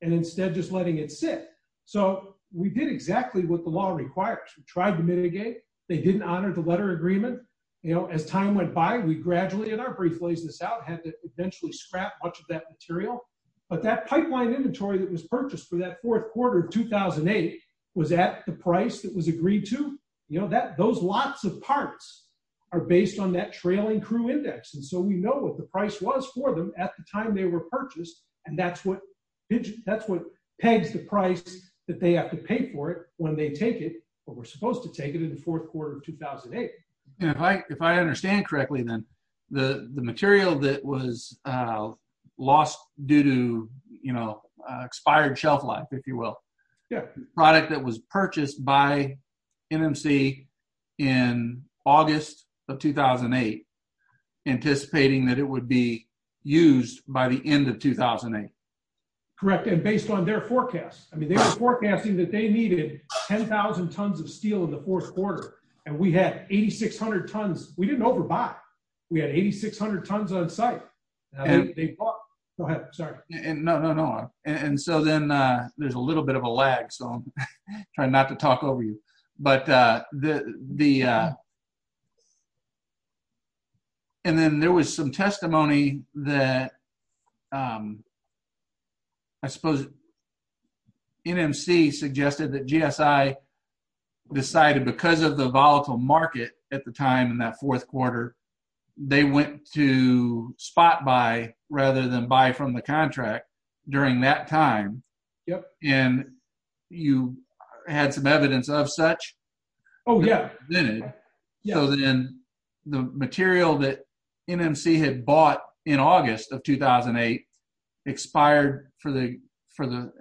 and instead just letting it sit. So we did exactly what the law requires, we tried to mitigate, they didn't honor the letter agreement. You know, as time went by, we gradually in our brief lays this out had to eventually scrap much of that material. But that pipeline inventory that was purchased for that fourth quarter of 2008 was at the price that was agreed to, you know that those lots of parts are based on that trailing crew index. And so we know what the price was for them at the time they were purchased. And that's what that's what pegs the price that they have to pay for it when they take it, but we're supposed to take it in the fourth quarter of 2008. If I understand correctly, then the the material that was lost due to, you know, expired shelf if you will, yeah, product that was purchased by NMC in August of 2008, anticipating that it would be used by the end of 2008. Correct. And based on their forecast, I mean, they were forecasting that they needed 10,000 tons of steel in the fourth quarter. And we had 8600 tons, we didn't there's a little bit of a lag. So I'm trying not to talk over you. But the the and then there was some testimony that I suppose NMC suggested that GSI decided because of the volatile market at the time in that fourth quarter, they went to spot by rather than buy from the contract during that time. Yep. And you had some evidence of such? Oh, yeah. So then the material that NMC had bought in August of 2008, expired for the for the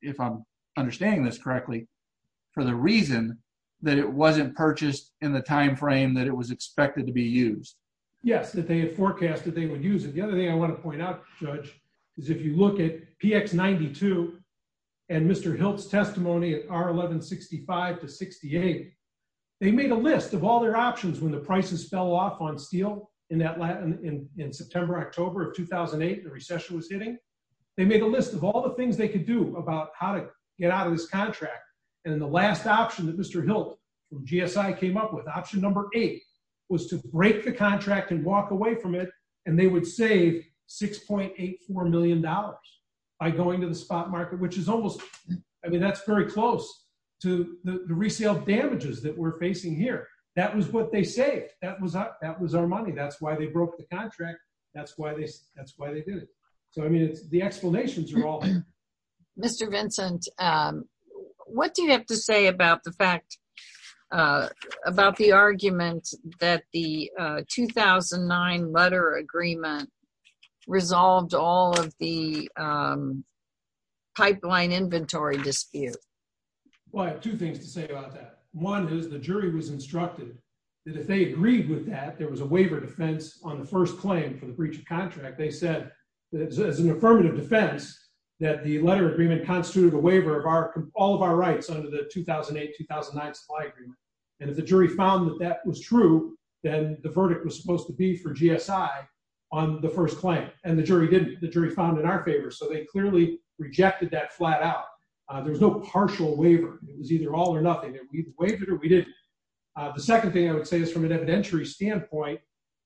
if I'm understanding this correctly, for the reason that it wasn't purchased in the timeframe that it was expected to be used? Yes, that they had forecasted they would use it. The other thing I want to point out, Judge, is if you look at PX 92, and Mr. Hilt's testimony at our 1165 to 68, they made a list of all their options when the prices fell off on steel in that Latin in September, October of 2008, the recession was hitting, they made a list of all the things they could do about how to get out of this contract. And then the last option that Mr. Hilt GSI came up with option number eight was to break the contract and walk away from it. And they would save $6.84 million by going to the spot market, which is almost I mean, that's very close to the resale damages that we're facing here. That was what they say that was that was our money. That's why they broke the contract. That's why they that's why they did it. So I mean, it's the about the argument that the 2009 letter agreement resolved all of the pipeline inventory dispute. Well, I have two things to say about that. One is the jury was instructed that if they agreed with that there was a waiver defense on the first claim for the breach of contract. They said that as an affirmative defense, that the letter agreement constituted a waiver of our all of our rights under the 2008 2009 supply agreement. And if the jury found that that was true, then the verdict was supposed to be for GSI on the first claim and the jury did the jury found in our favor. So they clearly rejected that flat out. There's no partial waiver. It was either all or nothing that we've waived it or we did. The second thing I would say is from an evidentiary standpoint,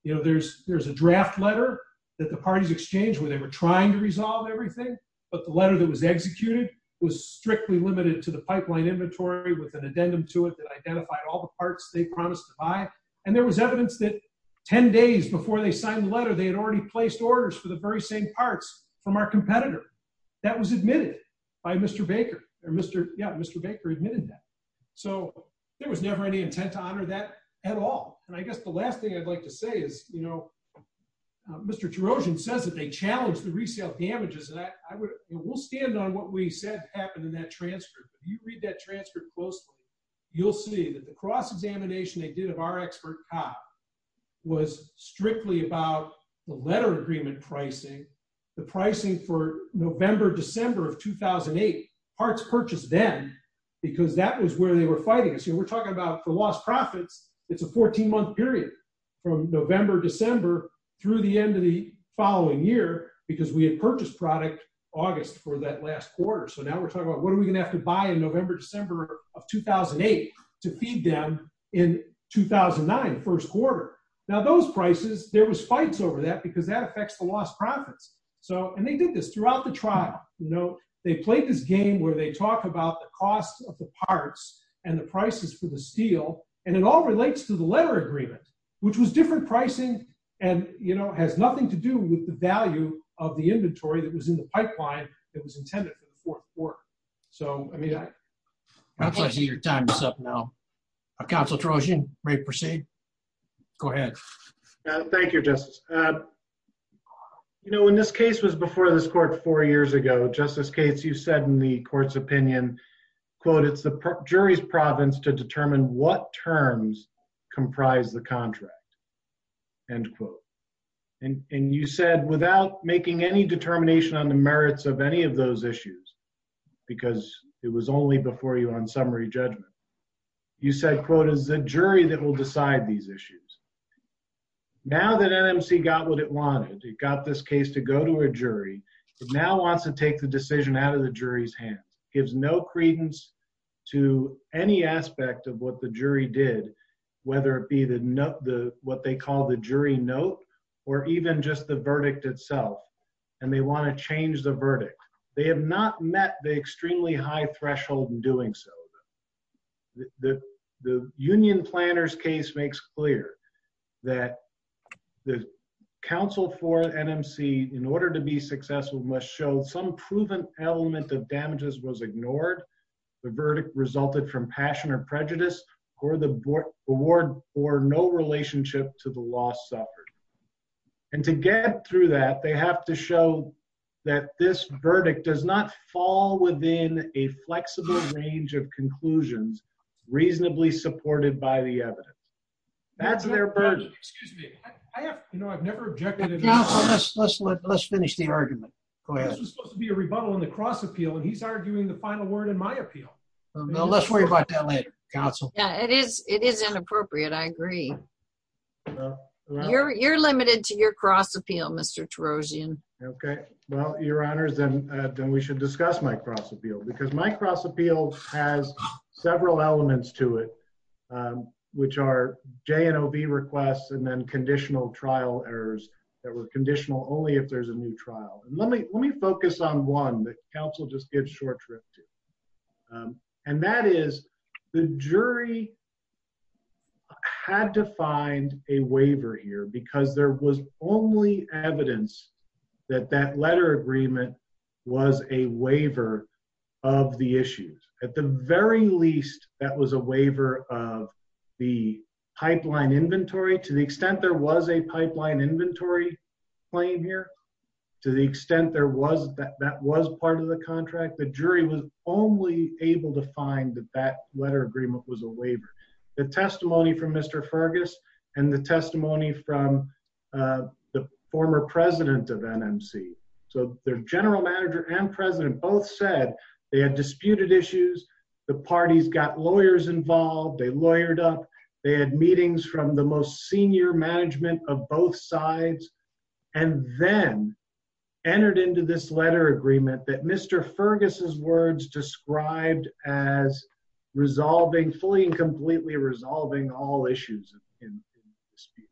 you know, there's there's a draft letter that the parties exchange where they were trying to resolve everything. But the letter that was executed was strictly limited to the pipeline inventory with an addendum to it that identified all the parts they promised to buy. And there was evidence that 10 days before they signed the letter, they had already placed orders for the very same parts from our competitor. That was admitted by Mr. Baker, or Mr. Yeah, Mr. Baker admitted that. So there was never any intent to honor that at all. And I guess the last thing I'd like to say is, you know, Mr. Trerosian says that they challenged the resale damages that I would, we'll stand on what we said happened in that transcript. If you read that transcript closely, you'll see that the cross examination they did of our expert cop was strictly about the letter agreement pricing, the pricing for November, December of 2008 parts purchased then, because that was where they were fighting. So we're talking about the lost profits. It's a 14 month period. November, December, through the end of the following year, because we had purchased product August for that last quarter. So now we're talking about what are we going to have to buy in November, December of 2008, to feed them in 2009, first quarter. Now those prices, there was fights over that because that affects the lost profits. So and they did this throughout the trial, you know, they played this game where they talk about the cost of the parts and the prices for the steel. And it all relates to the letter agreement, which was different pricing. And, you know, has nothing to do with the value of the inventory that was in the pipeline that was intended for the fourth quarter. So I mean, I see your time is up now. Council Trerosian may proceed. Go ahead. Thank you, Justice. You know, when this case was before this court four years ago, Justice Jury's province to determine what terms comprise the contract, end quote. And you said without making any determination on the merits of any of those issues, because it was only before you on summary judgment, you said, quote, as a jury that will decide these issues. Now that NMC got what it wanted, it got this case to go to a jury, but now wants to take the decision out of the jury's hands, gives no credence to any aspect of what the jury did, whether it be the note the what they call the jury note, or even just the verdict itself. And they want to change the verdict. They have not met the extremely high threshold in doing so. The union planners case makes clear that the counsel for NMC in order to be successful must show some proven element of negligence. And that is that the verdict of the NMC in the absence of any evidence of damages was ignored. The verdict resulted from passion or prejudice, or the board award for no relationship to the loss suffered. And to get through that they have to show that this verdict does not fall within a flexible range of conclusions, reasonably supported by the evidence. That's their burden. Excuse me. I have you know, I've never objected. Let's finish the argument. Go ahead. It's supposed to be a rebuttal on the cross appeal. And he's arguing the final word in my appeal. No, let's worry about that later. Council. Yeah, it is. It is inappropriate. I agree. You're you're limited to your cross appeal, Mr. Trojan. Okay, well, your honors, then, then we should discuss my cross appeal because my cross appeal has several elements to it, which are J and OB requests, and then conditional trial errors that were conditional only if there's a new trial. And let me let me focus on one that counsel just gives short trip to. And that is the jury had to find a waiver here because there was only evidence that that letter agreement was a waiver of the issues. At the very least, that was a waiver of the pipeline inventory to the extent there was a pipeline inventory claim here. To the extent there was that that was part of the contract, the jury was only able to find that that letter agreement was a waiver. The testimony from Mr. Fergus, and the testimony from the former president of NMC. So their general manager and president both said they had disputed issues. The parties got lawyers involved, they lawyered up, they had meetings from the most senior management of both sides, and then entered into this letter agreement that Mr. Fergus's words described as resolving fully and completely resolving all in dispute.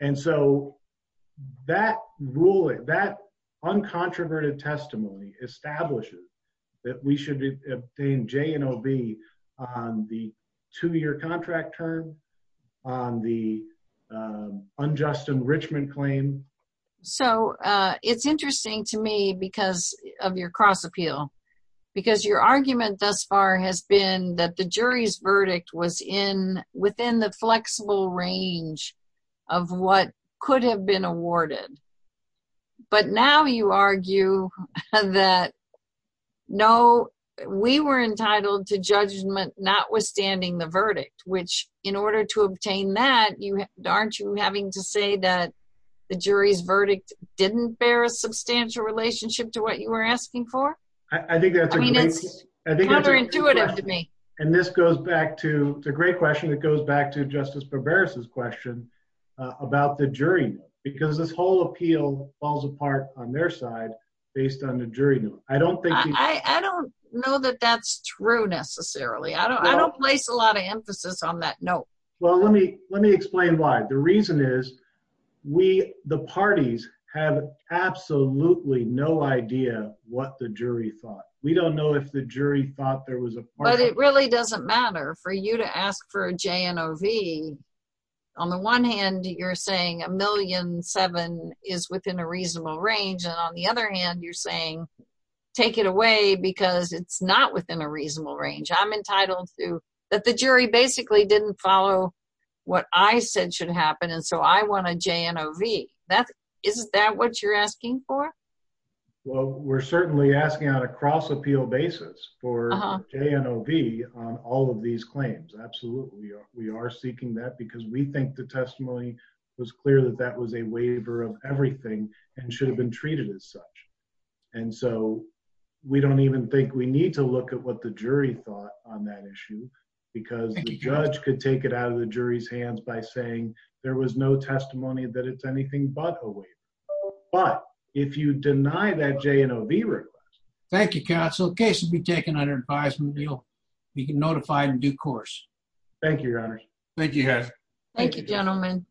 And so that ruling that uncontroverted testimony establishes that we should obtain J and OB on the two year contract term on the unjust enrichment claim. So it's interesting to me because of your cross appeal, because your argument thus far has been that the jury's flexible range of what could have been awarded. But now you argue that no, we were entitled to judgment notwithstanding the verdict, which in order to obtain that you aren't you having to say that the jury's verdict didn't bear a substantial relationship to what you were asking for? I think that's intuitive to me. And this goes back to the great question that goes back to Justice Barbera's question about the jury, because this whole appeal falls apart on their side, based on the jury. I don't think I don't know that that's true, necessarily. I don't place a lot of emphasis on that. No. Well, let me let me explain why. The reason is, we the parties have absolutely no idea what the jury thought. We don't know if the jury thought there was a part it really doesn't matter for you to ask for a J and OB. On the one hand, you're saying a million seven is within a reasonable range. And on the other hand, you're saying, take it away, because it's not within a reasonable range. I'm entitled to that the jury basically didn't follow what I asking for? Well, we're certainly asking on a cross appeal basis for J and OB on all of these claims. Absolutely. We are seeking that because we think the testimony was clear that that was a waiver of everything and should have been treated as such. And so we don't even think we need to look at what the jury thought on that issue. Because the judge could take it out of the jury's hands by saying there was no testimony that it's anything but a waiver. But if you deny that J and OB request. Thank you, counsel. Case will be taken under advisement. You'll be notified in due course. Thank you, your honor. Thank you. Thank you, gentlemen.